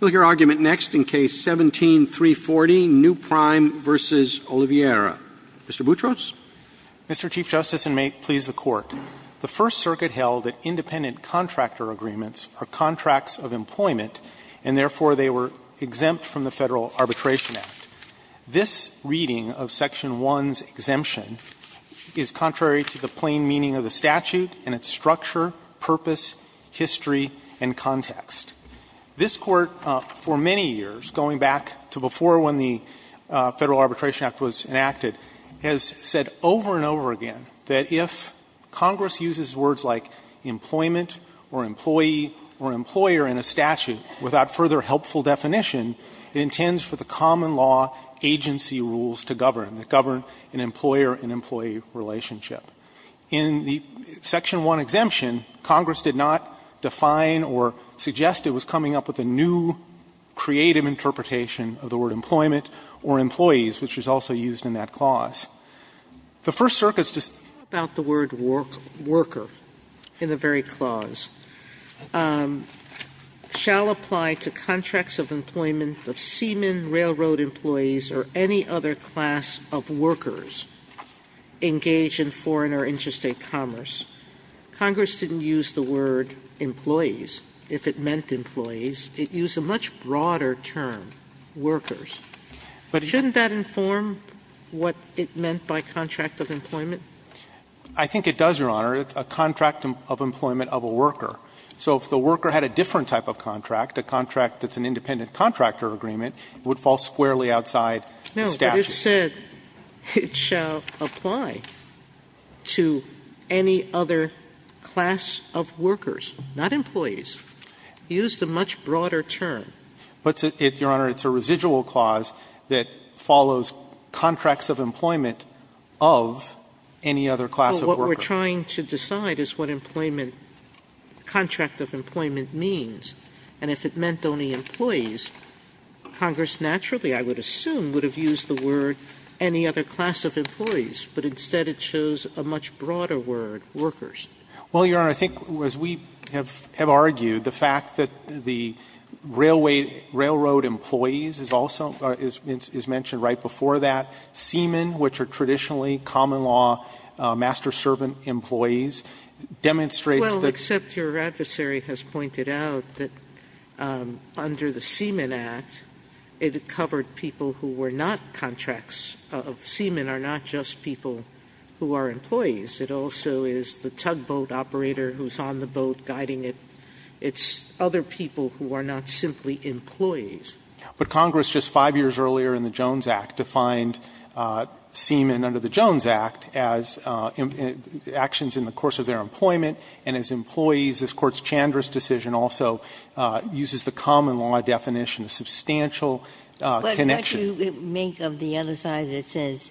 Mr. Boutros? Mr. Chief Justice, and may it please the Court, the First Circuit held that independent contractor agreements are contracts of employment, and therefore they were exempt from the Federal Arbitration Act. This reading of Section 1's exemption is contrary to the plain meaning of the statute and its structure, purpose, history, and context. This Court, for many years, going back to before when the Federal Arbitration Act was enacted, has said over and over again that if Congress uses words like employment or employee or employer in a statute without further helpful definition, it intends for the common law agency rules to govern, that govern an employer and employee relationship. In the Section 1 exemption, Congress did not define or suggest it was coming up with a new, creative interpretation of the word employment or employees, which was also used in that clause. The First Circuit's dispute about the word worker in the very clause shall apply to contracts of employment of seamen, railroad employees, or any other class of workers engaged in foreign or interstate commerce. Congress didn't use the word employees. If it meant employees, it used a much broader term, workers. But shouldn't that inform what it meant by contract of employment? I think it does, Your Honor. It's a contract of employment of a worker. So if the worker had a different type of contract, a contract that's an independent contractor agreement, it would fall squarely outside the statute. No, but it said it shall apply to any other class of workers, not employees. It used a much broader term. But, Your Honor, it's a residual clause that follows contracts of employment of any other class of worker. But what we're trying to decide is what employment, contract of employment means, and if it meant only employees, Congress naturally, I would assume, would have used the word any other class of employees. But instead, it shows a much broader word, workers. Well, Your Honor, I think as we have argued, the fact that the railway, railroad employees is also, is mentioned right before that. Seamen, which are traditionally common law master-servant employees, demonstrates that. Well, except your adversary has pointed out that under the Seamen Act, it covered people who were not contracts of seamen, are not just people who are employees. It also is the tugboat operator who's on the boat guiding it. It's other people who are not simply employees. But Congress, just 5 years earlier in the Jones Act, defined seamen under the Jones Act as actions in the course of their employment, and as employees. This Court's Chandra's decision also uses the common law definition, a substantial connection. Ginsburg. But what you make of the other side that says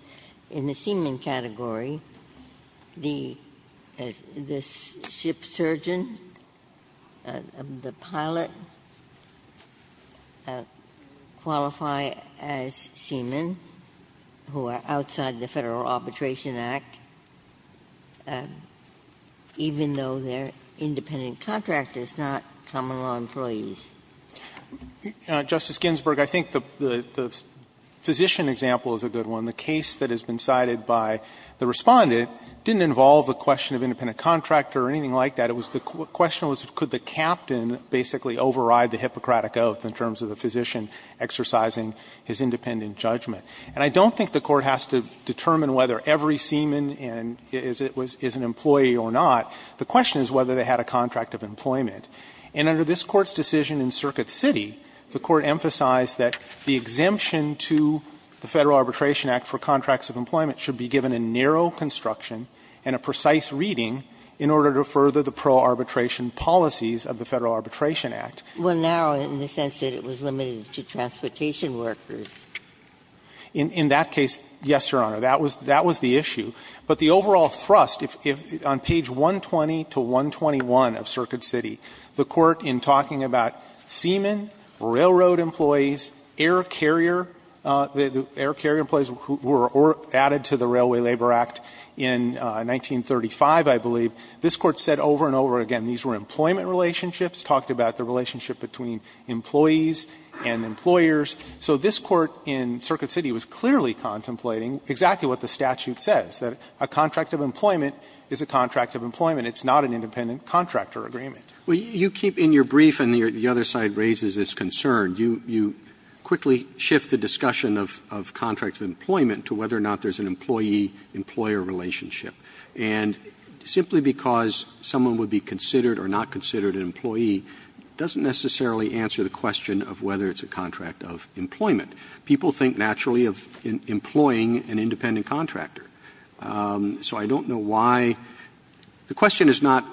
in the seamen category, the ship surgeon, the pilot, qualify as seamen who are outside the Federal Arbitration Act, even though they're independent contractors, not common law employees? Justice Ginsburg, I think the physician example is a good one. The case that has been cited by the Respondent didn't involve the question of independent contractor or anything like that. The question was could the captain basically override the Hippocratic Oath in terms of the physician exercising his independent judgment. And I don't think the Court has to determine whether every seaman is an employee or not. The question is whether they had a contract of employment. And under this Court's decision in Circuit City, the Court emphasized that the exemption to the Federal Arbitration Act for contracts of employment should be given a narrow construction and a precise reading in order to further the pro-arbitration policies of the Federal Arbitration Act. Well, now, in the sense that it was limited to transportation workers. In that case, yes, Your Honor, that was the issue. But the overall thrust, if on page 120 to 121 of Circuit City, the Court, in talking about seaman, railroad employees, air carrier, the air carrier employees who were added to the Railway Labor Act in 1935, I believe, this Court said over and over again these were employment relationships, talked about the relationship between employees and employers. So this Court in Circuit City was clearly contemplating exactly what the statute says, that a contract of employment is a contract of employment. It's not an independent contractor agreement. Roberts, you keep in your brief, and the other side raises this concern, you quickly shift the discussion of contracts of employment to whether or not there's an employee-employer relationship. And simply because someone would be considered or not considered an employee doesn't necessarily answer the question of whether it's a contract of employment. People think naturally of employing an independent contractor. So I don't know why. The question is not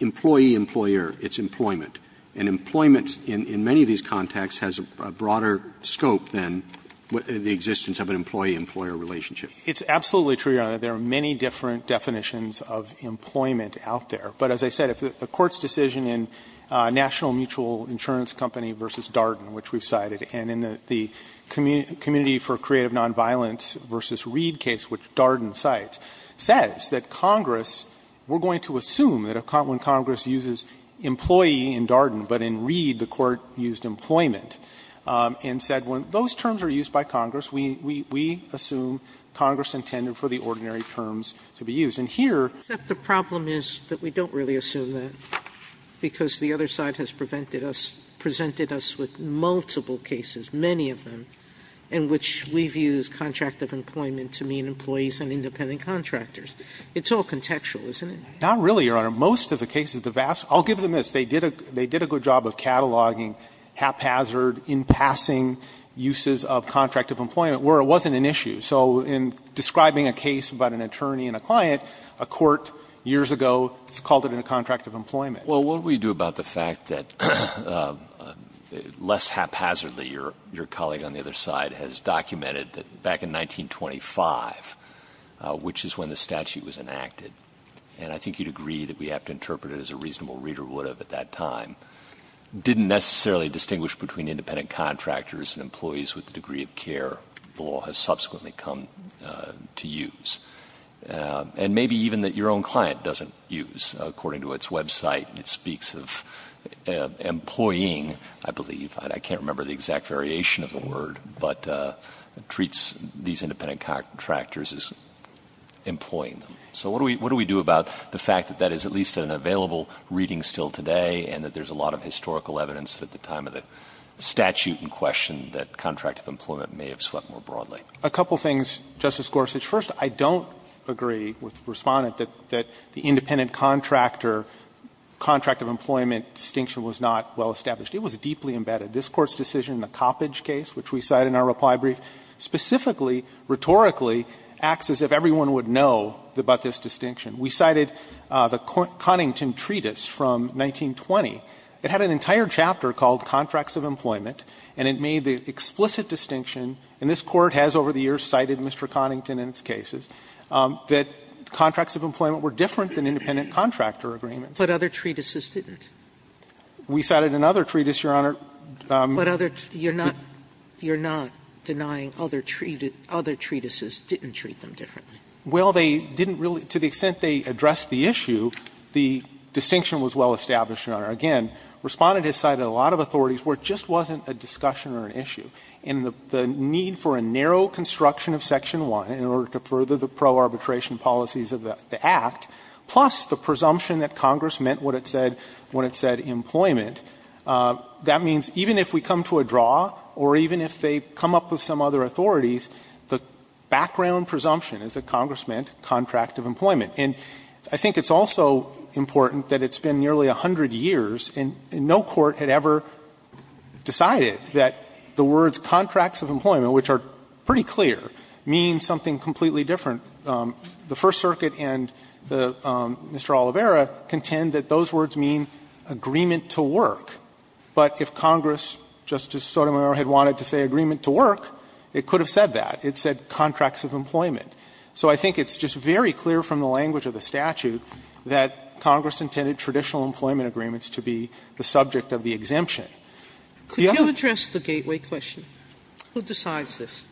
employee-employer, it's employment. And employment in many of these contexts has a broader scope than the existence of an employee-employer relationship. It's absolutely true, Your Honor, that there are many different definitions of employment out there. But as I said, if the Court's decision in National Mutual Insurance Company v. Darden, which we've cited, and in the Community for Creative Nonviolence v. Reed case, which Darden cites, says that Congress, we're going to assume that when Congress uses employee in Darden, but in Reed the Court used employment, and said when those terms are used by Congress, we assume Congress intended for the ordinary terms to be used. And here Sotomayor, except the problem is that we don't really assume that, because the other side has presented us with multiple cases, many of them, in which we've used contract of employment to mean employees and independent contractors. It's all contextual, isn't it? Not really, Your Honor. Most of the cases, the vast – I'll give them this. They did a good job of cataloging haphazard, in-passing uses of contract of employment where it wasn't an issue. So in describing a case about an attorney and a client, a court years ago called it a contract of employment. Well, what do we do about the fact that, less haphazardly, your colleague on the other side has documented that back in 1925, which is when the statute was enacted, and I think you'd agree that we have to interpret it as a reasonable reader would have at that time, didn't necessarily distinguish between independent contractors and employees with the degree of care the law has subsequently come to use. And maybe even that your own client doesn't use, according to its website. It speaks of employing, I believe, I can't remember the exact variation of the word, but treats these independent contractors as employing them. So what do we do about the fact that that is at least an available reading still today and that there's a lot of historical evidence at the time of the statute in question that contract of employment may have swept more broadly? A couple of things, Justice Gorsuch. First, I don't agree with the Respondent that the independent contractor, contract of employment distinction was not well established. It was deeply embedded. This Court's decision in the Coppedge case, which we cite in our reply brief, specifically, rhetorically acts as if everyone would know about this distinction. We cited the Connington Treatise from 1920. It had an entire chapter called Contracts of Employment, and it made the explicit distinction, and this Court has over the years cited Mr. Connington in its cases, that contracts of employment were different than independent contractor agreements. But other treatises didn't? We cited another treatise, Your Honor. But other you're not denying other treatises didn't treat them differently? Well, they didn't really, to the extent they addressed the issue, the distinction was well established, Your Honor. Again, Respondent has cited a lot of authorities where it just wasn't a discussion or an issue. And the need for a narrow construction of Section 1 in order to further the pro-arbitration policies of the Act, plus the presumption that Congress meant what it said when it said employment, that means even if we come to a draw or even if they come up with some other authorities, the background presumption is that Congress meant contract of employment. And I think it's also important that it's been nearly 100 years, and no court had ever decided that the words contracts of employment, which are pretty clear, mean something completely different. The First Circuit and Mr. Oliveira contend that those words mean agreement to work. But if Congress, Justice Sotomayor, had wanted to say agreement to work, it could have said that. It said contracts of employment. So I think it's just very clear from the language of the statute that Congress intended traditional employment agreements to be the subject of the exemption. The other question is the gateway question. Who decides this?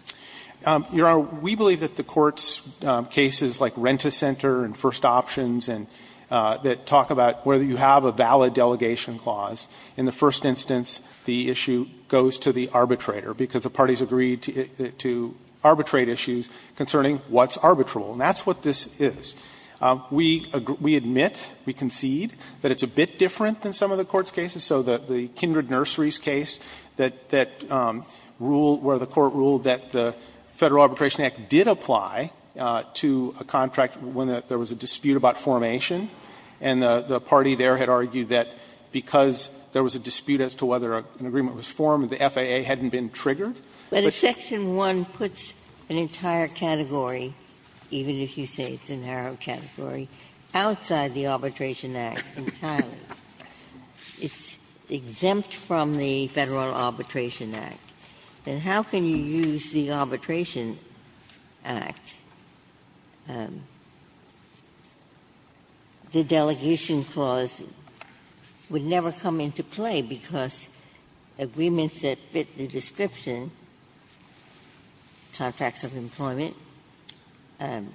Your Honor, we believe that the Court's cases like Rent-A-Center and First Options and that talk about whether you have a valid delegation clause, in the first instance the issue goes to the arbitrator because the parties agreed to arbitrate issues concerning what's arbitrable. And that's what this is. We admit, we concede that it's a bit different than some of the Court's cases. So the Kindred Nurseries case that ruled, where the Court ruled that the Federal Arbitration Act, there was a dispute about formation, and the party there had argued that because there was a dispute as to whether an agreement was formed, the FAA hadn't been triggered. But if Section 1 puts an entire category, even if you say it's a narrow category, outside the Arbitration Act entirely, it's exempt from the Federal Arbitration Act, then how can you use the Arbitration Act? The delegation clause would never come into play because agreements that fit the description, contracts of employment, they're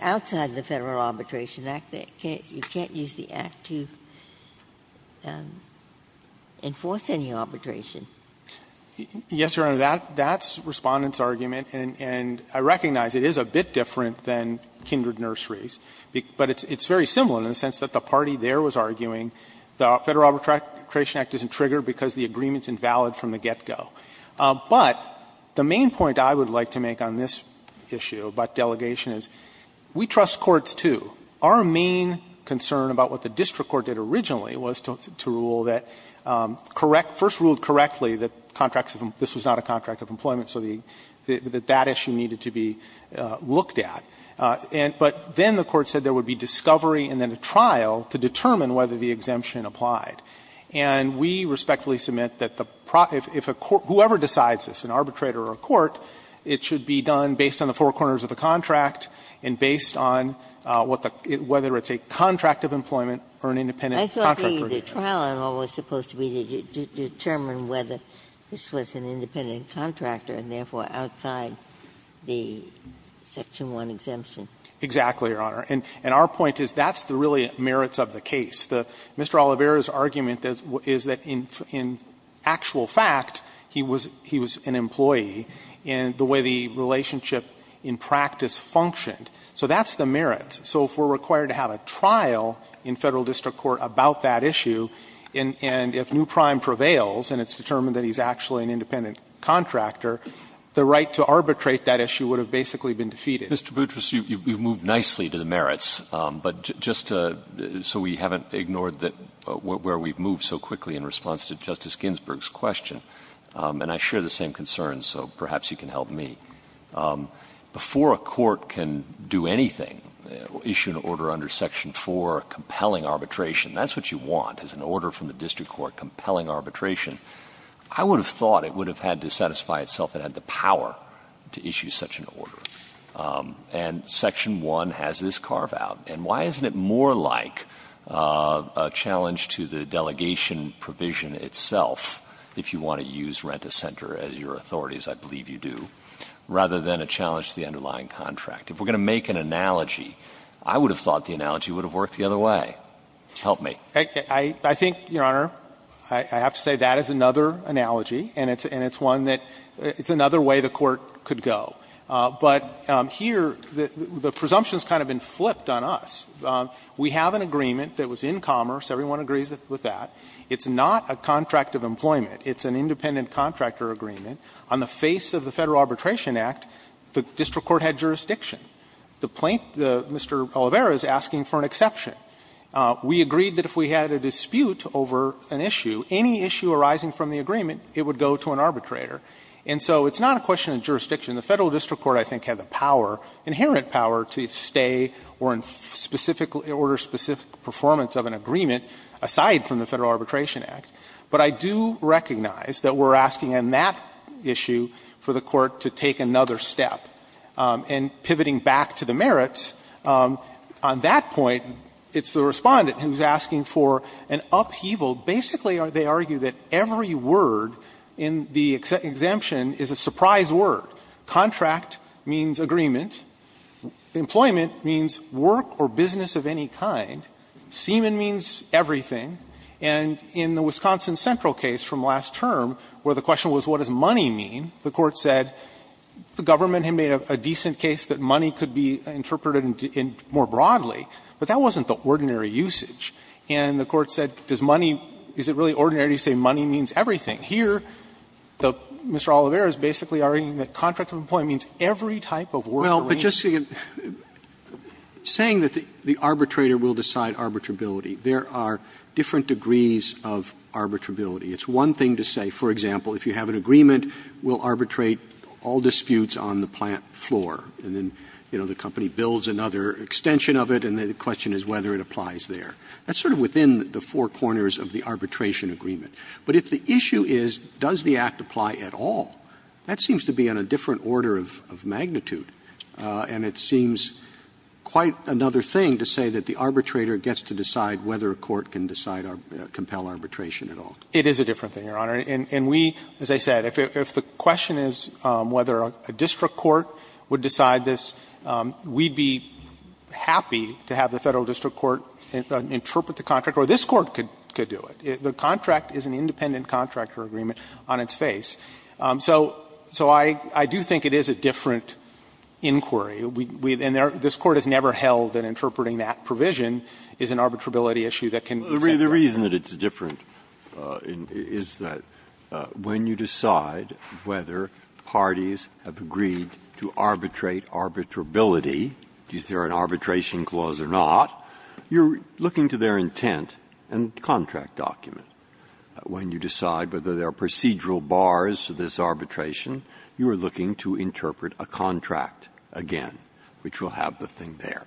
outside the Federal Arbitration Act. You can't use the Act to enforce any arbitration. Yes, Your Honor, that's Respondent's argument, and I recognize it is a bit different than Kindred Nurseries, but it's very similar in the sense that the party there was arguing the Federal Arbitration Act isn't triggered because the agreement is invalid from the get-go. But the main point I would like to make on this issue about delegation is we trust courts, too. Our main concern about what the district court did originally was to rule that correct first ruled correctly that this was not a contract of employment, so that that issue needed to be looked at. But then the Court said there would be discovery and then a trial to determine whether the exemption applied. And we respectfully submit that whoever decides this, an arbitrator or a court, it should be done based on the four corners of the contract and based on whether it's a contract of employment or an independent contract. Ginsburg. I thought the trial in all was supposed to be to determine whether this was an independent contractor and therefore outside the Section 1 exemption. Exactly, Your Honor. And our point is that's the really merits of the case. Mr. Oliveira's argument is that in actual fact, he was an employee, and the way the relationship in practice functioned. So that's the merits. So if we're required to have a trial in Federal district court about that issue, and if Newprime prevails and it's determined that he's actually an independent contractor, the right to arbitrate that issue would have basically been defeated. Mr. Boutrous, you've moved nicely to the merits, but just so we haven't ignored where we've moved so quickly in response to Justice Ginsburg's question, and I share the same concerns, so perhaps you can help me. Before a court can do anything, issue an order under Section 4, compelling arbitration, that's what you want, is an order from the district court, compelling arbitration. I would have thought it would have had to satisfy itself, it had the power to issue such an order. And Section 1 has this carve-out. And why isn't it more like a challenge to the delegation provision itself, if you want to use rent-a-center as your authorities, I believe you do? Rather than a challenge to the underlying contract. If we're going to make an analogy, I would have thought the analogy would have worked the other way. Help me. I think, Your Honor, I have to say that is another analogy, and it's one that – it's another way the Court could go. But here, the presumption has kind of been flipped on us. We have an agreement that was in commerce. Everyone agrees with that. It's not a contract of employment. It's an independent contractor agreement. On the face of the Federal Arbitration Act, the district court had jurisdiction. The plaintiff, Mr. Oliveira, is asking for an exception. We agreed that if we had a dispute over an issue, any issue arising from the agreement, it would go to an arbitrator. And so it's not a question of jurisdiction. The Federal District Court, I think, had the power, inherent power, to stay or in specific order, specific performance of an agreement aside from the Federal Arbitration Act. But I do recognize that we're asking on that issue for the Court to take another step. And pivoting back to the merits, on that point, it's the Respondent who's asking for an upheaval. Basically, they argue that every word in the exemption is a surprise word. Contract means agreement. Employment means work or business of any kind. Seaman means everything. And in the Wisconsin Central case from last term, where the question was what does money mean, the Court said the government had made a decent case that money could be interpreted more broadly, but that wasn't the ordinary usage. And the Court said, does money – is it really ordinary to say money means everything? Here, Mr. Oliveira is basically arguing that contract of employment means every type of work or business. Robertson, saying that the arbitrator will decide arbitrability, there are different degrees of arbitrability. It's one thing to say, for example, if you have an agreement, we'll arbitrate all disputes on the plant floor. And then, you know, the company builds another extension of it, and then the question is whether it applies there. That's sort of within the four corners of the arbitration agreement. But if the issue is, does the Act apply at all, that seems to be on a different order of magnitude. And it seems quite another thing to say that the arbitrator gets to decide whether a court can decide or compel arbitration at all. It is a different thing, Your Honor. And we, as I said, if the question is whether a district court would decide this, we'd be happy to have the Federal District Court interpret the contract, or this Court could do it. The contract is an independent contractor agreement on its face. So I do think it is a different inquiry. And this Court has never held that interpreting that provision is an arbitrability issue that can be said to apply. Breyer. The reason that it's different is that when you decide whether parties have agreed to arbitrate arbitrability, is there an arbitration clause or not, you're looking to their intent and contract document. When you decide whether there are procedural bars to this arbitration, you are looking to interpret a contract again, which will have the thing there.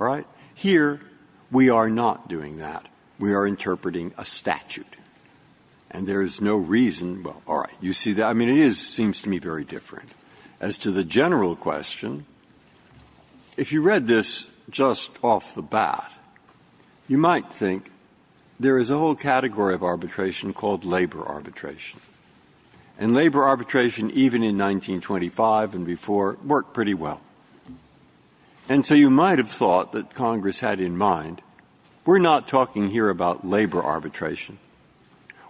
All right? Here, we are not doing that. We are interpreting a statute. And there is no reason to say, well, all right, you see that? I mean, it is, it seems to me, very different. As to the general question, if you read this just off the bat, you might think there is a whole category of arbitration called labor arbitration. And labor arbitration, even in 1925 and before, worked pretty well. And so you might have thought that Congress had in mind, we're not talking here about labor arbitration.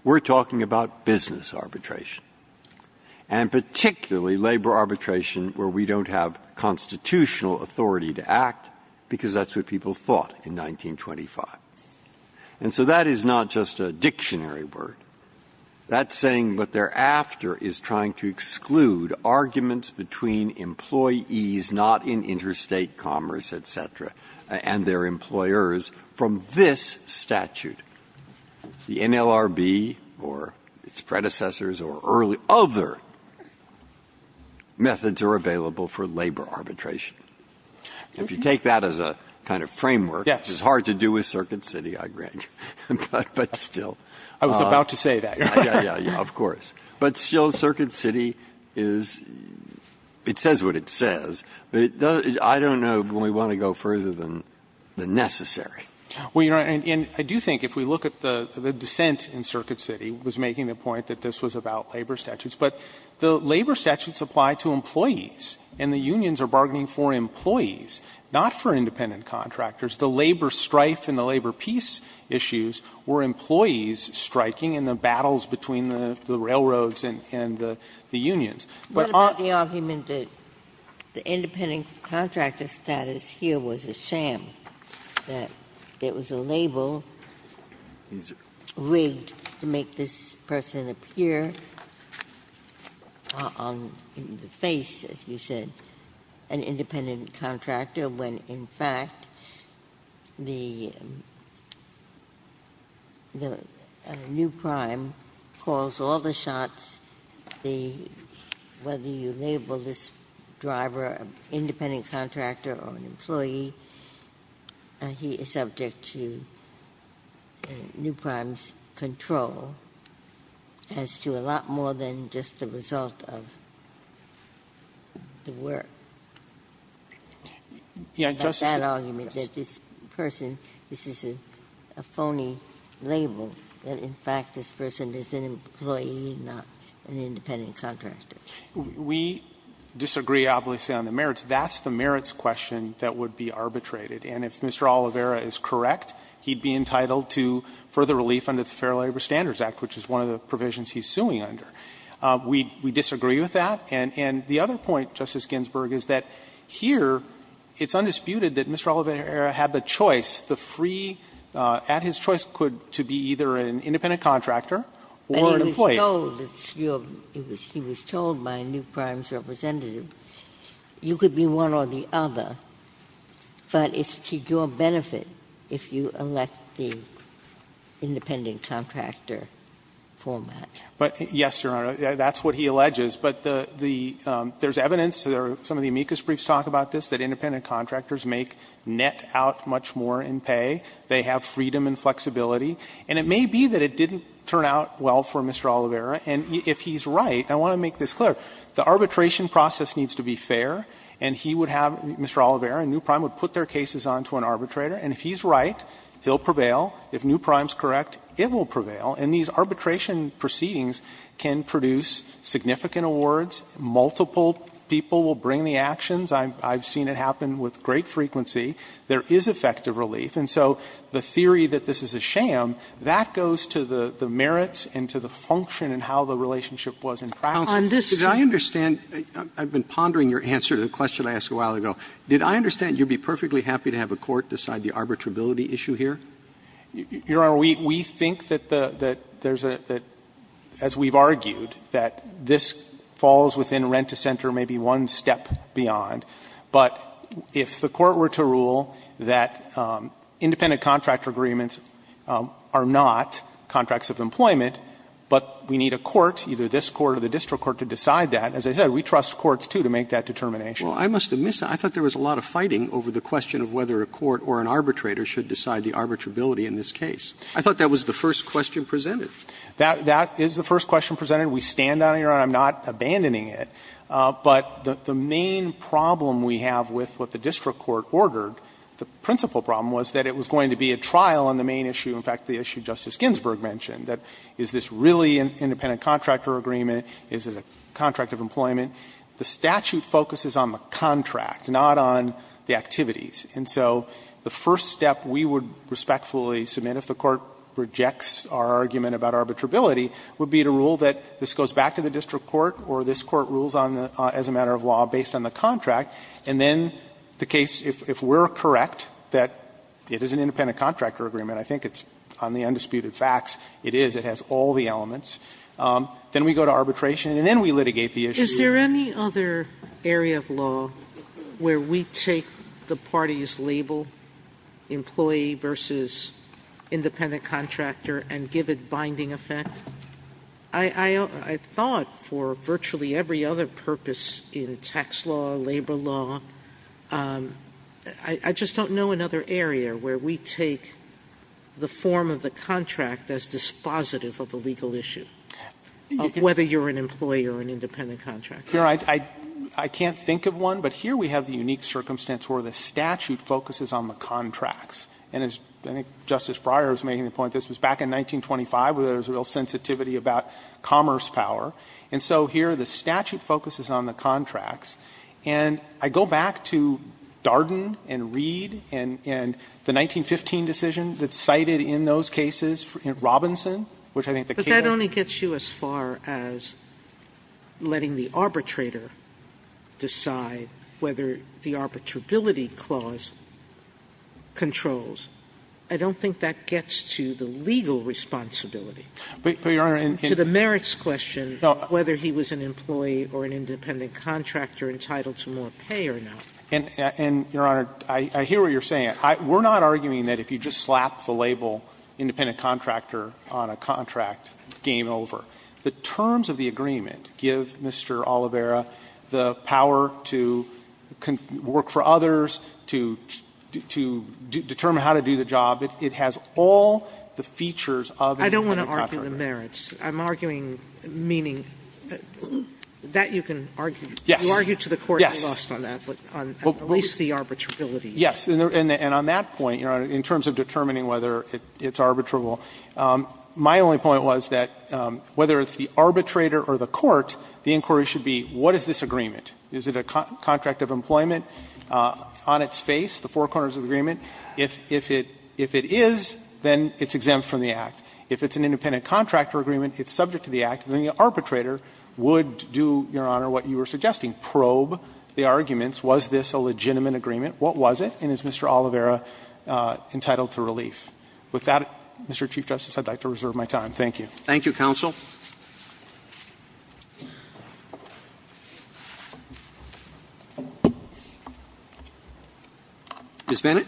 We're talking about business arbitration, and particularly labor arbitration where we don't have constitutional authority to act, because that's what people thought in 1925. And so that is not just a dictionary word. That saying, but thereafter, is trying to exclude arguments between employees not in interstate commerce, et cetera, and their employers from this statute. The NLRB or its predecessors or early other methods are available for labor arbitration. If you take that as a kind of framework, it's hard to do with Circuit City, I grant you. But still. Gershengorn I was about to say that. Breyer Of course. But still, Circuit City is, it says what it says, but I don't know, we want to go further than necessary. Gershengorn Well, Your Honor, and I do think if we look at the dissent in Circuit City was making the point that this was about labor statutes. But the labor statutes apply to employees, and the unions are bargaining for employees, not for independent contractors. The labor strife and the labor peace issues were employees striking, and the battles between the railroads and the unions. But on the argument that the independent contractor status here was a sham, that it was a label rigged to make this person appear on the face, as you said, an independent contractor, when, in fact, the new prime calls all the shots, whether you label this driver an independent contractor or an employee, he is subject to new prime's control as to a lot more than just the result of the work. That argument that this person, this is a phony label, that in fact this person is an employee, not an independent contractor. Gershengorn We disagree, obviously, on the merits. That's the merits question that would be arbitrated. And if Mr. Oliveira is correct, he would be entitled to further relief under the Fair Labor Standards Act, which is one of the provisions he's suing under. We disagree with that. And the other point, Justice Ginsburg, is that here it's undisputed that Mr. Oliveira had the choice, the free, at his choice could be either an independent contractor or an employee. Ginsburg He was told that you're, he was told by a new prime's representative, you could be one or the other, but it's to your benefit if you elect the independent contractor format. Gershengorn But, yes, Your Honor, that's what he alleges. But the, the, there's evidence, some of the amicus briefs talk about this, that independent contractors make net out much more in pay. They have freedom and flexibility. And it may be that it didn't turn out well for Mr. Oliveira. And if he's right, and I want to make this clear, the arbitration process needs to be fair, and he would have, Mr. Oliveira and new prime would put their cases onto an arbitrator. And if he's right, he'll prevail. If new prime's correct, it will prevail. And these arbitration proceedings can produce significant awards. Multiple people will bring the actions. I've, I've seen it happen with great frequency. There is effective relief. And so the theory that this is a sham, that goes to the, the merits and to the function and how the relationship was in practice. Roberts, did I understand, I've been pondering your answer to the question I asked a while ago. Did I understand you'd be perfectly happy to have a court decide the arbitrability issue here? You, Your Honor, we, we think that the, that there's a, that, as we've argued, that this falls within rent to center, maybe one step beyond. But if the court were to rule that independent contractor agreements are not contracts of employment, but we need a court, either this court or the district court to decide that. As I said, we trust courts, too, to make that determination. Well, I must admit, I thought there was a lot of fighting over the question of whether a court or an arbitrator should decide the arbitrability in this case. I thought that was the first question presented. That, that is the first question presented. We stand on it, Your Honor. I'm not abandoning it. But the, the main problem we have with what the district court ordered, the principal problem, was that it was going to be a trial on the main issue, in fact, the issue Justice Ginsburg mentioned, that is this really an independent contractor agreement, is it a contract of employment? The statute focuses on the contract, not on the activities. And so the first step we would respectfully submit if the court rejects our argument about arbitrability would be to rule that this goes back to the district court or this court rules on the, as a matter of law, based on the contract, and then the case, if we're correct, that it is an independent contractor agreement. I think it's, on the undisputed facts, it is, it has all the elements. Then we go to arbitration and then we litigate the issue. Sotomayor, is there any other area of law where we take the party's label, employee versus independent contractor, and give it binding effect? I, I, I thought for virtually every other purpose in tax law, labor law, I, I just don't know another area where we take the form of the contract as dispositive of a legal issue, of whether you're an employee or an independent contractor. Here, I, I, I can't think of one, but here we have the unique circumstance where the statute focuses on the contracts. And as, I think Justice Breyer was making the point, this was back in 1925 where there was a real sensitivity about commerce power. And so here the statute focuses on the contracts. And I go back to Darden and Reed and, and the 1915 decision that's cited in those cases, in Robinson, which I think the case. Sotomayor, it only gets you as far as letting the arbitrator decide whether the arbitrability clause controls. I don't think that gets to the legal responsibility. But, but, Your Honor, and, and. To the merits question. No. Whether he was an employee or an independent contractor entitled to more pay or not. And, and, Your Honor, I, I hear what you're saying. I, we're not arguing that if you just slap the label independent contractor on a contract, game over. The terms of the agreement give Mr. Oliveira the power to work for others, to, to determine how to do the job. It, it has all the features of an independent contractor. Sotomayor, I don't want to argue the merits. I'm arguing, meaning, that you can argue. Yes. You argue to the court's lust on that, on at least the arbitrability. Yes. And, and on that point, Your Honor, in terms of determining whether it's arbitrable, my only point was that whether it's the arbitrator or the court, the inquiry should be what is this agreement? Is it a contract of employment on its face, the four corners of the agreement? If, if it, if it is, then it's exempt from the Act. If it's an independent contractor agreement, it's subject to the Act, then the arbitrator would do, Your Honor, what you were suggesting, probe the arguments. Was this a legitimate agreement? What was it? And is Mr. Oliveira entitled to relief? With that, Mr. Chief Justice, I'd like to reserve my time. Thank you. Roberts. Thank you, counsel. Ms. Bennett.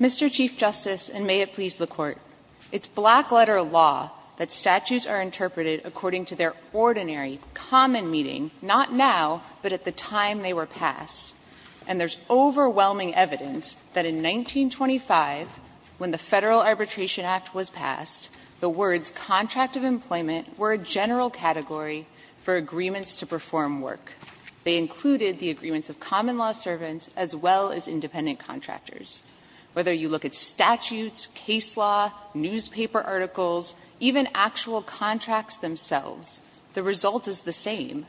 Mr. Chief Justice, and may it please the Court, it's black-letter law that statues are interpreted according to their ordinary, common meaning, not now, but at the time they were passed. And there's overwhelming evidence that in 1925, when the Federal Arbitration Act was passed, the words contract of employment were a general category for agreements to perform work. They included the agreements of common law servants as well as independent contractors. Whether you look at statutes, case law, newspaper articles, even actual contracts themselves, the result is the same.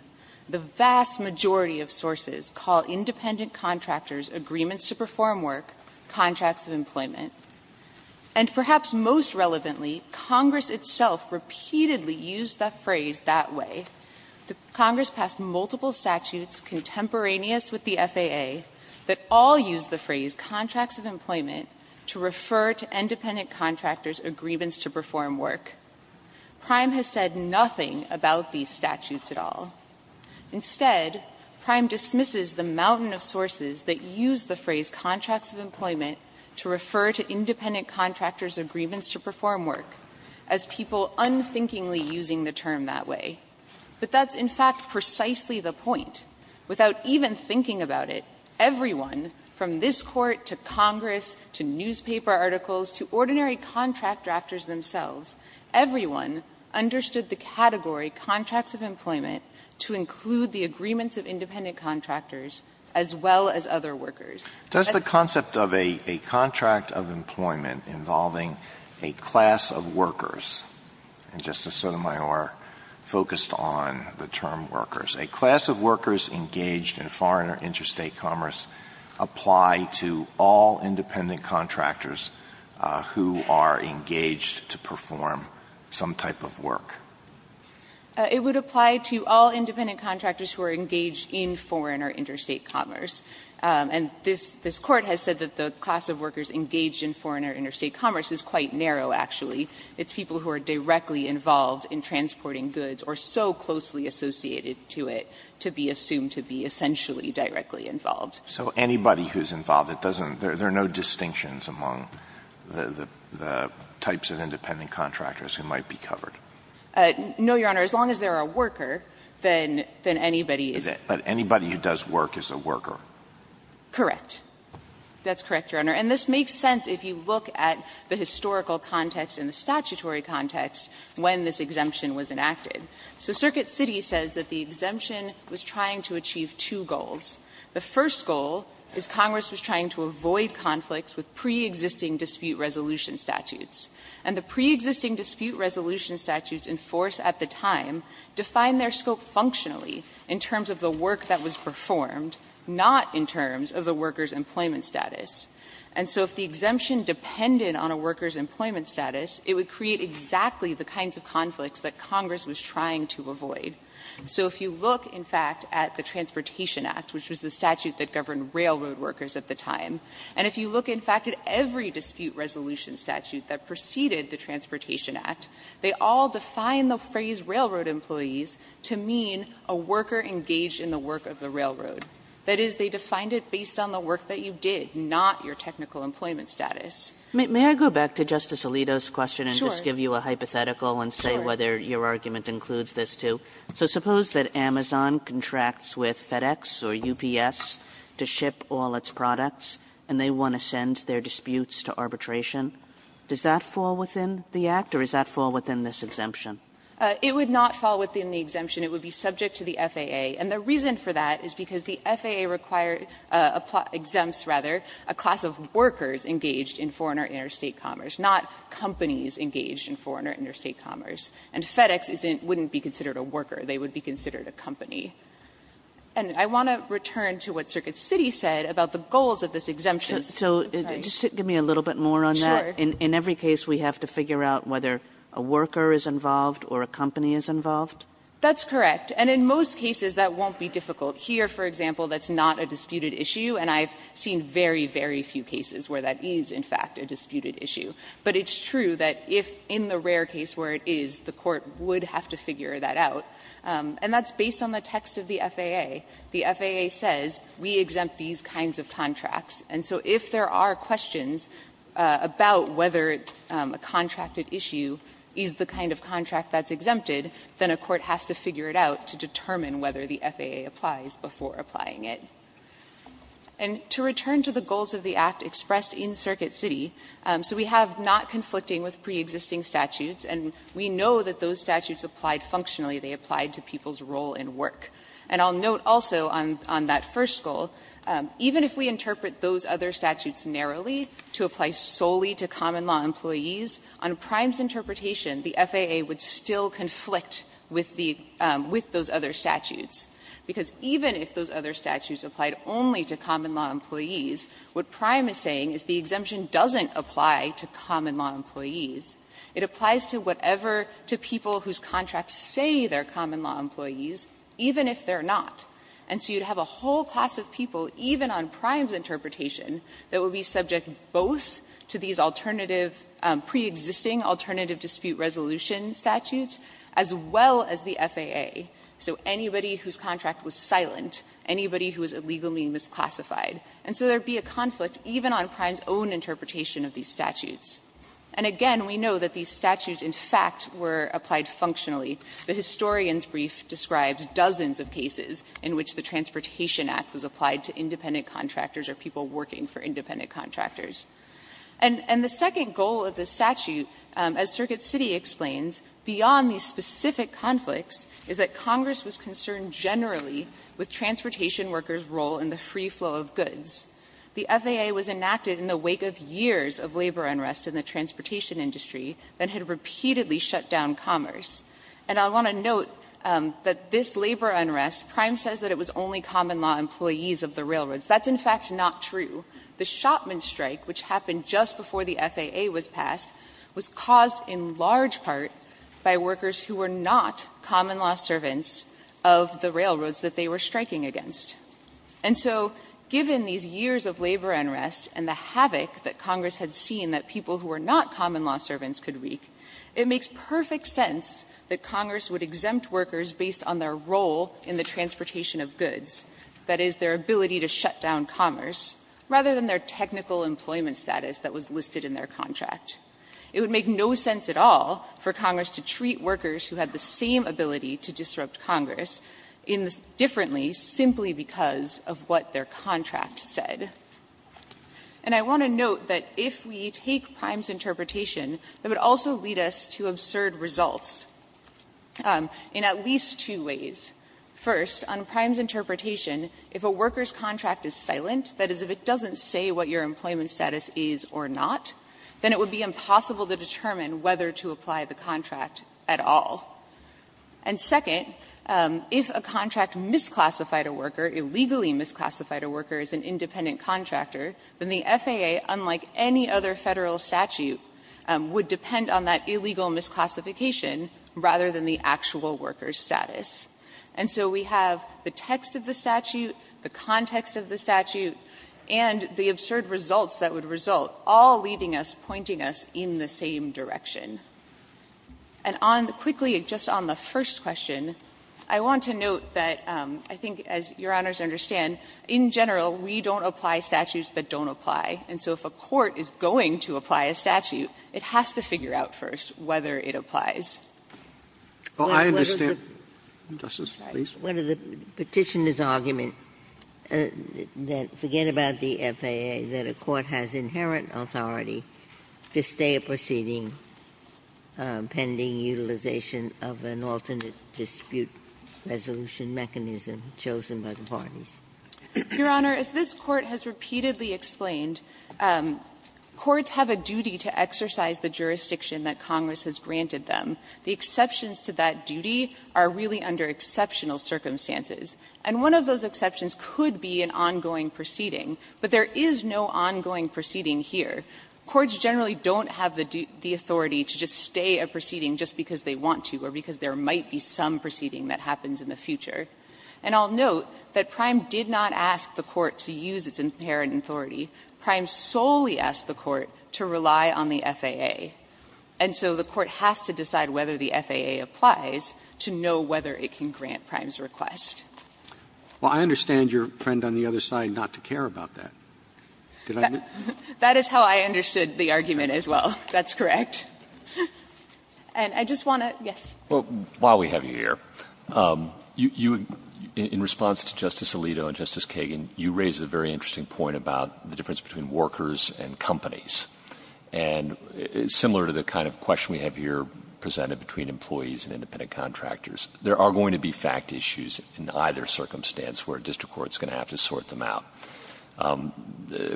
The vast majority of sources call independent contractors' agreements to perform work contracts of employment. And perhaps most relevantly, Congress itself repeatedly used the phrase that way. Congress passed multiple statutes contemporaneous with the FAA that all used the phrase contracts of employment to refer to independent contractors' agreements to perform work. Prime has said nothing about these statutes at all. Instead, Prime dismisses the mountain of sources that use the phrase contracts of employment to refer to independent contractors' agreements to perform work, as people unthinkingly using the term that way. But that's in fact precisely the point. Without even thinking about it, everyone from this Court to Congress to newspaper articles to ordinary contract drafters themselves, everyone understood the category contracts of employment to include the agreements of independent contractors as well as other workers. Alito, does the concept of a contract of employment involving a class of workers and Justice Sotomayor focused on the term workers, a class of workers engaged in foreign or interstate commerce apply to all independent contractors who are engaged to perform some type of work? It would apply to all independent contractors who are engaged in foreign or interstate commerce. And this Court has said that the class of workers engaged in foreign or interstate commerce is quite narrow, actually. It's people who are directly involved in transporting goods or so closely associated to it to be assumed to be essentially directly involved. So anybody who's involved, it doesn't – there are no distinctions among the types of independent contractors who might be covered? No, Your Honor. As long as they're a worker, then anybody is a – But anybody who does work is a worker? Correct. That's correct, Your Honor. And this makes sense if you look at the historical context and the statutory context when this exemption was enacted. So Circuit City says that the exemption was trying to achieve two goals. The first goal is Congress was trying to avoid conflicts with preexisting dispute resolution statutes. And the preexisting dispute resolution statutes in force at the time define their scope functionally in terms of the work that was performed, not in terms of the worker's employment status. And so if the exemption depended on a worker's employment status, it would create exactly the kinds of conflicts that Congress was trying to avoid. So if you look, in fact, at the Transportation Act, which was the statute that governed railroad workers at the time, and if you look, in fact, at every dispute resolution statute that preceded the Transportation Act, they all define the phrase railroad employees to mean a worker engaged in the work of the railroad. That is, they defined it based on the work that you did, not your technical employment status. May I go back to Justice Alito's question and just give you a hypothetical and say whether your argument includes this, too? So suppose that Amazon contracts with FedEx or UPS to ship all its products, and they want to send their disputes to arbitration. Does that fall within the Act, or does that fall within this exemption? It would not fall within the exemption. It would be subject to the FAA. And the reason for that is because the FAA requires or exempts, rather, a class of workers engaged in foreign or interstate commerce, not companies engaged in foreign or interstate commerce. And FedEx wouldn't be considered a worker. They would be considered a company. And I want to return to what Circuit City said about the goals of this exemption. Kagan. So just give me a little bit more on that. In every case, we have to figure out whether a worker is involved or a company is involved? That's correct. And in most cases, that won't be difficult. Here, for example, that's not a disputed issue, and I've seen very, very few cases where that is, in fact, a disputed issue. But it's true that if in the rare case where it is, the court would have to figure that out. And that's based on the text of the FAA. The FAA says we exempt these kinds of contracts. And so if there are questions about whether a contracted issue is the kind of contract that's exempted, then a court has to figure it out to determine whether the FAA applies before applying it. And to return to the goals of the Act expressed in Circuit City, so we have not conflicting with preexisting statutes, and we know that those statutes applied functionally. They applied to people's role in work. And I'll note also on that first goal, even if we interpret those other statutes narrowly to apply solely to common law employees, on Prime's interpretation, the FAA would still conflict with the other statutes, because even if those other statutes applied only to common law employees, what Prime is saying is the exemption doesn't apply to common law employees. It applies to whatever to people whose contracts say they're common law employees, even if they're not. And so you'd have a whole class of people, even on Prime's interpretation, that would be subject both to these alternative, preexisting alternative dispute resolution statutes, as well as the FAA. So anybody whose contract was silent, anybody who was illegally misclassified. And so there would be a conflict even on Prime's own interpretation of these statutes. And again, we know that these statutes, in fact, were applied functionally. The historian's brief describes dozens of cases in which the Transportation Act was applied to independent contractors or people working for independent contractors. And the second goal of the statute, as Circuit City explains, beyond these specific conflicts, is that Congress was concerned generally with transportation workers' role in the free flow of goods. The FAA was enacted in the wake of years of labor unrest in the transportation industry that had repeatedly shut down commerce. And I want to note that this labor unrest, Prime says that it was only common law employees of the railroads. That's, in fact, not true. The Shopman strike, which happened just before the FAA was passed, was caused in large part by workers who were not common law servants of the railroads that they were striking against. And so given these years of labor unrest and the havoc that Congress had seen that people who were not common law servants could wreak, it makes perfect sense that Congress would exempt workers based on their role in the transportation of goods, that is, their ability to shut down commerce, rather than their technical employment status that was listed in their contract. It would make no sense at all for Congress to treat workers who had the same ability to disrupt Congress differently simply because of what their contract said. And I want to note that if we take Prime's interpretation, it would also lead us to absurd results in at least two ways. First, on Prime's interpretation, if a worker's contract is silent, that is, if it doesn't say what your employment status is or not, then it would be impossible to determine whether to apply the contract at all. And second, if a contract misclassified a worker, illegally misclassified a worker as an independent contractor, then the FAA, unlike any other Federal statute, would depend on that illegal misclassification rather than the actual worker's status. And so we have the text of the statute, the context of the statute, and the absurd results that would result, all leading us, pointing us in the same direction. And on the quickly, just on the first question, I want to note that I think, as Your Honors understand, in general, we don't apply statutes that don't apply. And so if a court is going to apply a statute, it has to figure out first whether it applies. Sotomayor, Justice, please. Ginsburg, what is the Petitioner's argument that, forget about the FAA, that a court has inherent authority to stay a proceeding pending utilization of an alternate dispute resolution mechanism chosen by the parties? Your Honor, as this Court has repeatedly explained, courts have a duty to exercise the jurisdiction that Congress has granted them. The exceptions to that duty are really under exceptional circumstances. And one of those exceptions could be an ongoing proceeding, but there is no ongoing proceeding here. Courts generally don't have the authority to just stay a proceeding just because they want to or because there might be some proceeding that happens in the future. And I'll note that Prime did not ask the Court to use its inherent authority. Prime solely asked the Court to rely on the FAA. And so the Court has to decide whether the FAA applies to know whether it can grant Prime's request. Well, I understand your friend on the other side not to care about that. That is how I understood the argument as well. That's correct. And I just want to yes. Well, while we have you here, you, in response to Justice Alito and Justice Kagan, you raise a very interesting point about the difference between workers and companies. And similar to the kind of question we have here presented between employees and independent contractors, there are going to be fact issues in either circumstance where a district court is going to have to sort them out.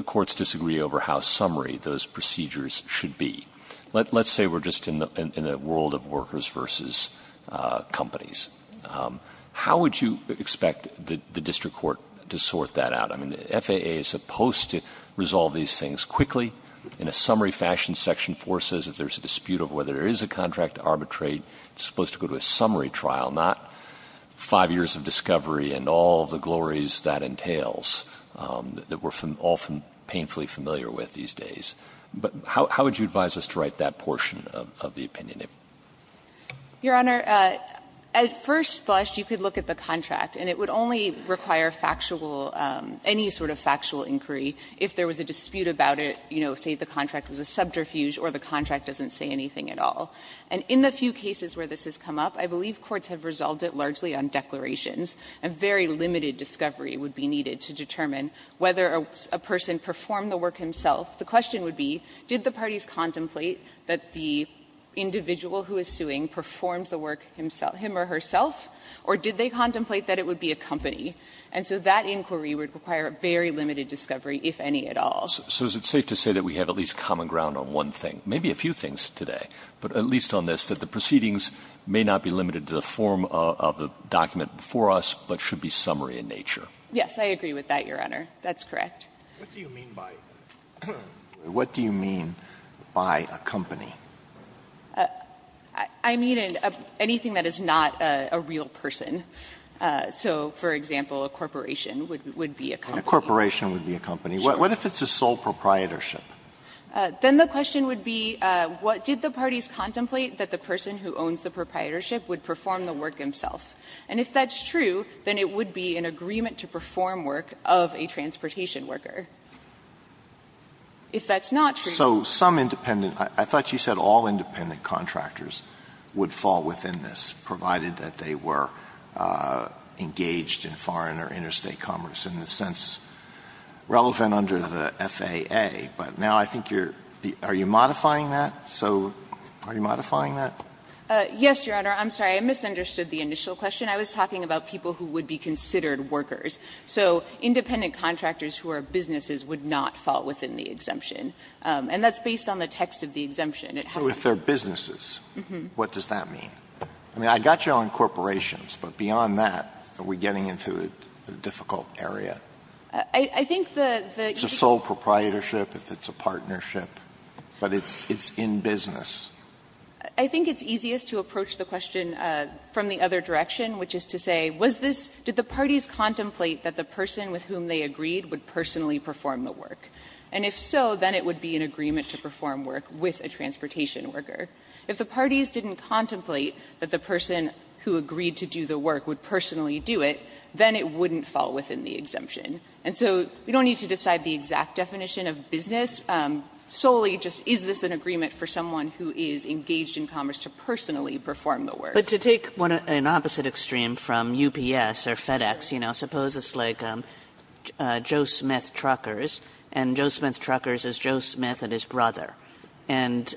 Courts disagree over how summary those procedures should be. Let's say we're just in a world of workers versus companies. How would you expect the district court to sort that out? I mean, the FAA is supposed to resolve these things quickly. In a summary fashion, Section 4 says if there's a dispute of whether there is a contract arbitrate, it's supposed to go to a summary trial, not 5 years of discovery and all of the glories that entails that we're often painfully familiar with these days. But how would you advise us to write that portion of the opinion? Your Honor, at first blush, you could look at the contract, and it would only require factual, any sort of factual inquiry if there was a dispute about it, you know, say the contract was a subterfuge or the contract doesn't say anything at all. And in the few cases where this has come up, I believe courts have resolved it largely on declarations, and very limited discovery would be needed to determine whether a person performed the work himself. The question would be, did the parties contemplate that the individual who is suing performed the work himself, him or herself, or did they contemplate that it would be a company? And so that inquiry would require a very limited discovery, if any at all. So is it safe to say that we have at least common ground on one thing, maybe a few things today, but at least on this, that the proceedings may not be limited to the form of a document before us, but should be summary in nature? Yes, I agree with that, Your Honor. That's correct. What do you mean by a company? I mean anything that is not a real person. So, for example, a corporation would be a company. A corporation would be a company. What if it's a sole proprietorship? Then the question would be, what did the parties contemplate that the person who owns the proprietorship would perform the work himself? And if that's true, then it would be an agreement to perform work of a transportation worker. If that's not true. So some independent – I thought you said all independent contractors would fall within this, provided that they were engaged in foreign or interstate commerce in the sense relevant under the FAA, but now I think you're – are you modifying that? So are you modifying that? Yes, Your Honor. I'm sorry. I misunderstood the initial question. I was talking about people who would be considered workers. So independent contractors who are businesses would not fall within the exemption. And that's based on the text of the exemption. So if they're businesses, what does that mean? I mean, I got you on corporations, but beyond that, are we getting into a difficult area? I think the – It's a sole proprietorship if it's a partnership, but it's in business. I think it's easiest to approach the question from the other direction, which is to say, was this – did the parties contemplate that the person with whom they agreed would personally perform the work? And if so, then it would be an agreement to perform work with a transportation worker. If the parties didn't contemplate that the person who agreed to do the work would personally do it, then it wouldn't fall within the exemption. And so we don't need to decide the exact definition of business. Solely, just is this an agreement for someone who is engaged in commerce to personally perform the work? But to take an opposite extreme from UPS or FedEx, you know, suppose it's like Joe Smith Truckers, and Joe Smith Truckers is Joe Smith and his brother. And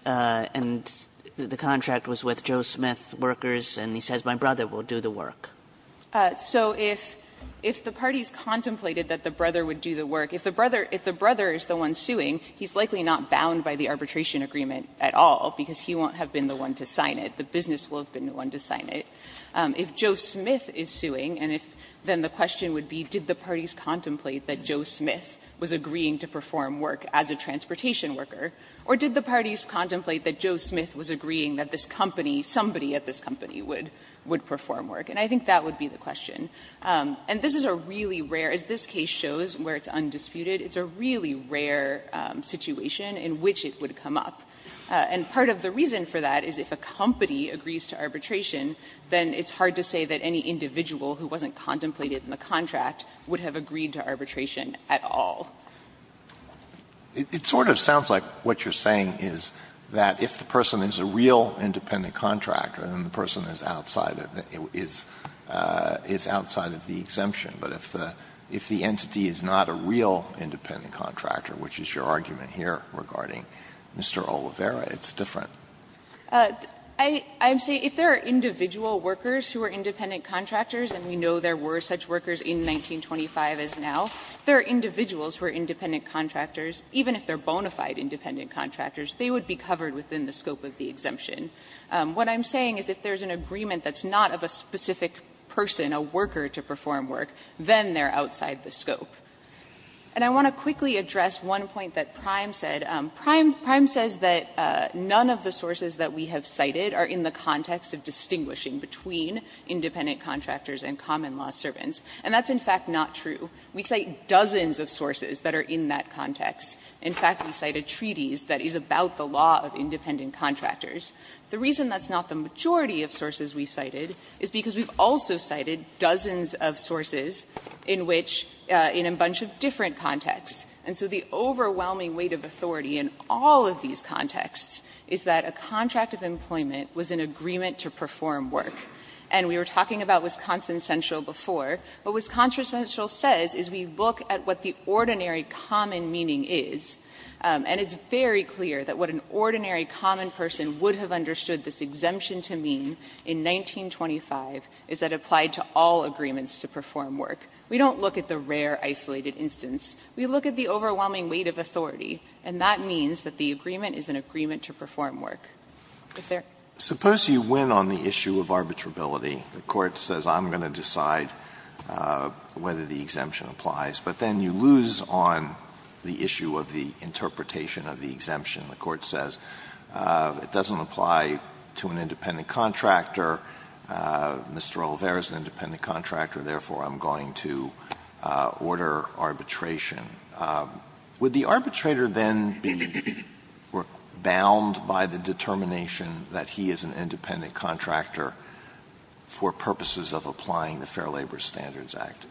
the contract was with Joe Smith Workers, and he says, my brother will do the work. So if the parties contemplated that the brother would do the work, if the brother is the one suing, he's likely not bound by the arbitration agreement at all, because he won't have been the one to sign it. The business will have been the one to sign it. If Joe Smith is suing, and if then the question would be, did the parties contemplate that Joe Smith was agreeing to perform work as a transportation worker, or did the parties contemplate that Joe Smith was agreeing that this company, somebody at this company would perform work? And I think that would be the question. And this is a really rare – as this case shows where it's undisputed, it's a really rare situation in which it would come up. And part of the reason for that is if a company agrees to arbitration, then it's hard to say that any individual who wasn't contemplated in the contract would have agreed to arbitration at all. Alito, it sort of sounds like what you're saying is that if the person is a real independent contractor, then the person is outside of the exemption. But if the entity is not a real independent contractor, which is your argument here regarding Mr. Oliveira, it's different. Saharsky, I would say if there are individual workers who are independent contractors, and we know there were such workers in 1925 as now, there are individuals who are independent contractors, even if they're bona fide independent contractors, they would be covered within the scope of the exemption. What I'm saying is if there's an agreement that's not of a specific person, a worker to perform work, then they're outside the scope. And I want to quickly address one point that Prime said. Prime says that none of the sources that we have cited are in the context of distinguishing between independent contractors and common law servants, and that's in fact not true. We cite dozens of sources that are in that context. In fact, we cited treaties that is about the law of independent contractors. The reason that's not the majority of sources we've cited is because we've also cited dozens of sources in which – in a bunch of different contexts. And so the overwhelming weight of authority in all of these contexts is that a contract of employment was an agreement to perform work. And we were talking about Wisconsin Central before. What Wisconsin Central says is we look at what the ordinary common meaning is, and it's very clear that what an ordinary common person would have understood this exemption to mean in 1925 is that it applied to all agreements to perform work. We don't look at the rare isolated instance. We look at the overwhelming weight of authority, and that means that the agreement is an agreement to perform work. If there are any other questions, I'm happy to take them. Alito, I don't know whether the exemption applies, but then you lose on the issue of the interpretation of the exemption. The Court says it doesn't apply to an independent contractor. Mr. Olivera is an independent contractor, therefore I'm going to order arbitration. Would the arbitrator then be bound by the determination that he is an independent contractor for purposes of applying the Fair Labor Standards Act?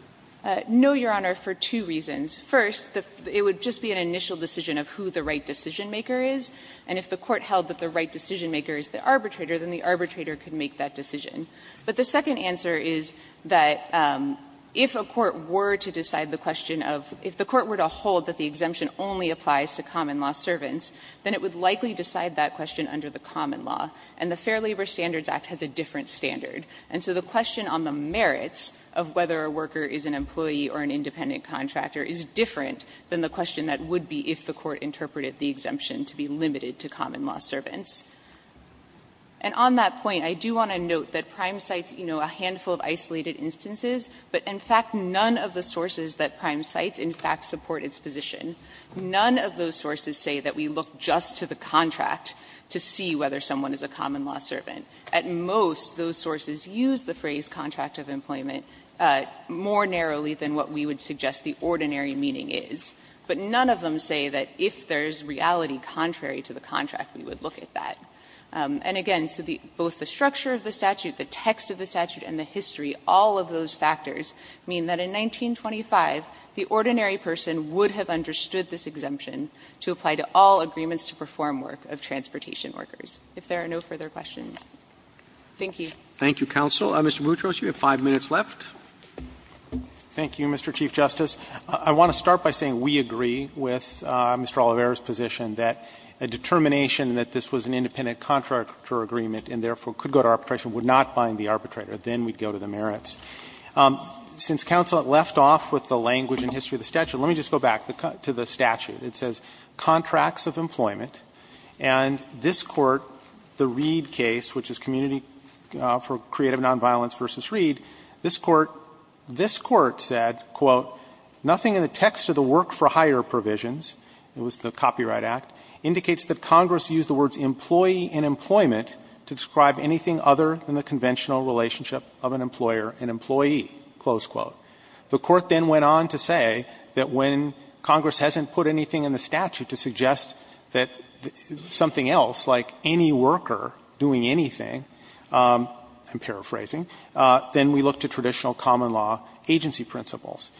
No, Your Honor, for two reasons. First, it would just be an initial decision of who the right decisionmaker is, and if the Court held that the right decisionmaker is the arbitrator, then the arbitrator could make that decision. But the second answer is that if a court were to decide the question of the court were to hold that the exemption only applies to common law servants, then it would likely decide that question under the common law, and the Fair Labor Standards Act has a different standard. And so the question on the merits of whether a worker is an employee or an independent contractor is different than the question that would be if the Court interpreted the exemption to be limited to common law servants. And on that point, I do want to note that Prime cites, you know, a handful of isolated instances, but in fact none of the sources that Prime cites in fact support its position. None of those sources say that we look just to the contract to see whether someone is a common law servant. At most, those sources use the phrase contract of employment more narrowly than what we would suggest the ordinary meaning is. But none of them say that if there is reality contrary to the contract, we would look at that. And again, so both the structure of the statute, the text of the statute, and the history, all of those factors mean that in 1925, the ordinary person would have understood this exemption to apply to all agreements to perform work of transportation workers. If there are no further questions, thank you. Roberts Thank you, counsel. Mr. Boutros, you have 5 minutes left. Boutros Thank you, Mr. Chief Justice. I want to start by saying we agree with Mr. Oliveira's position that a determination that this was an independent contractor agreement and therefore could go to arbitration would not bind the arbitrator. Then we'd go to the merits. Since counsel left off with the language and history of the statute, let me just go back to the statute. It says, ''Contracts of Employment'' and this Court, the Reed case, which is community for creative nonviolence versus Reed, this Court, this Court said, quote, ''Nothing in the text of the work-for-hire provisions'', it was the Copyright Act, ''indicates that Congress used the words ''employee'' and ''employment'' to describe anything other than the conventional relationship of an employer and employee.'' The Court then went on to say that when Congress hasn't put anything in the statute to suggest that something else, like any worker doing anything, I'm paraphrasing, then we look to traditional common law agency principles.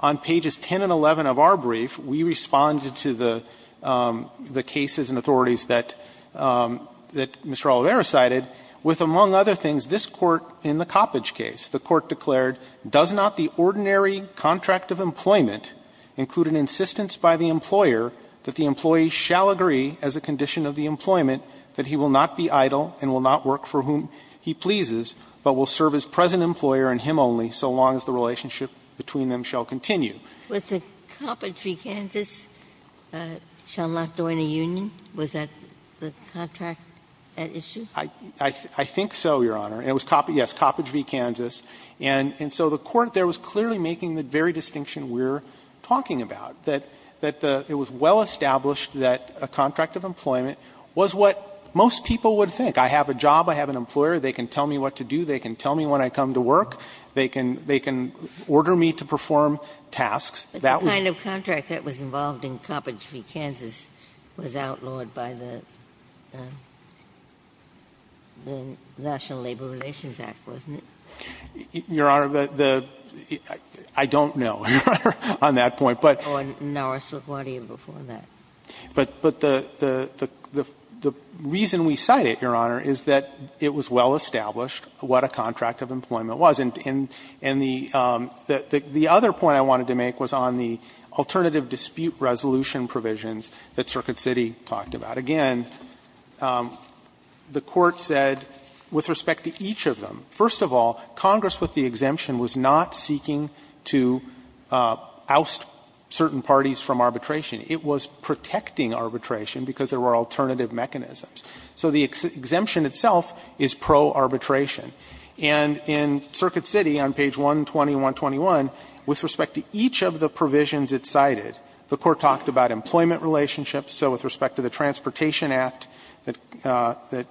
On pages 10 and 11 of our brief, we responded to the cases and authorities that Mr. Oliveira cited with, among other things, this Court in the Coppage case. The Court declared, ''Does not the ordinary contract of employment include an insistence by the employer that the employee shall agree as a condition of the employment that he will not be idle and will not work for whom he pleases, but will serve as present employer and him only so long as the relationship between them shall continue?'' Ginsburg Was it Coppage v. Kansas shall not join a union? Was that the contract at issue? Fisher I think so, Your Honor. And it was Coppage, yes, Coppage v. Kansas. And so the Court there was clearly making the very distinction we're talking about, that it was well established that a contract of employment was what most people would think. I have a job, I have an employer, they can tell me what to do, they can tell me when I come to work, they can order me to perform tasks. That was the kind of contract that was involved in Coppage v. Kansas was outlawed by the National Labor Relations Act, wasn't it? Fisher Your Honor, the ‑‑ I don't know, Your Honor, on that point. But ‑‑ Ginsburg Or Norris LaGuardia before that. Fisher But the reason we cite it, Your Honor, is that it was well established what a contract of employment was. And the other point I wanted to make was on the alternative dispute resolution provisions that Circuit City talked about. Again, the Court said with respect to each of them, first of all, Congress with the exemption was not seeking to oust certain parties from arbitration. It was protecting arbitration because there were alternative mechanisms. So the exemption itself is pro‑arbitration. And in Circuit City on page 120 and 121, with respect to each of the provisions it cited, the Court talked about employment relationships. So with respect to the Transportation Act that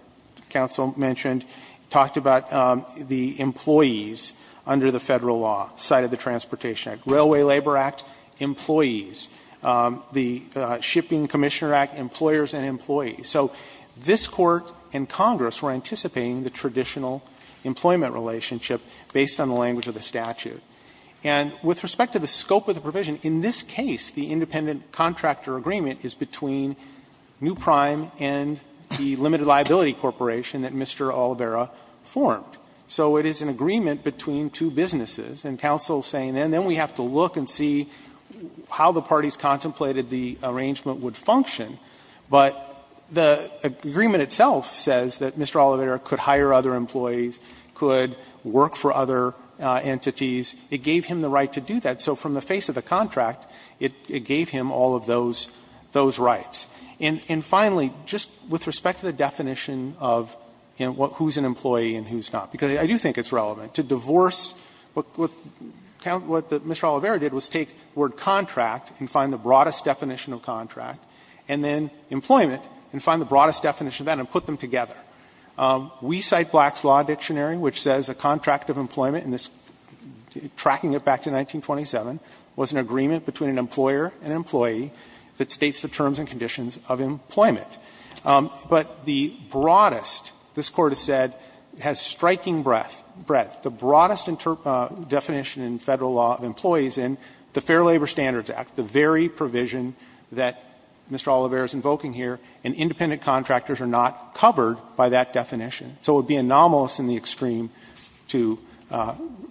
counsel mentioned, it talked about the employees under the Federal law, cited the Transportation Act, Railway Labor Act, employees, the Shipping Commissioner Act, employers and employees. So this Court and Congress were anticipating the traditional employment relationship based on the language of the statute. And with respect to the scope of the provision, in this case, the independent contractor agreement is between New Prime and the Limited Liability Corporation that Mr. Oliveira formed. So it is an agreement between two businesses, and counsel is saying, and then we have to look and see how the parties contemplated the arrangement would function. But the agreement itself says that Mr. Oliveira could hire other employees, could work for other entities. It gave him the right to do that. So from the face of the contract, it gave him all of those rights. And finally, just with respect to the definition of who is an employee and who is not, because I do think it's relevant, to divorce what Mr. Oliveira did was take the word contract and find the broadest definition of contract, and then employment and find the broadest definition of that and put them together. We cite Black's Law Dictionary, which says a contract of employment, and this, tracking it back to 1927, was an agreement between an employer and an employee that states the terms and conditions of employment. But the broadest, this Court has said, has striking breadth, the broadest definition in Federal law of employees in the Fair Labor Standards Act, the very provision that Mr. Oliveira is invoking here, and independent contractors are not covered by that definition. So it would be anomalous in the extreme to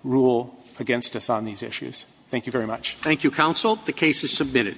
rule against us on these issues. Thank you very much. Roberts. Thank you, counsel. The case is submitted.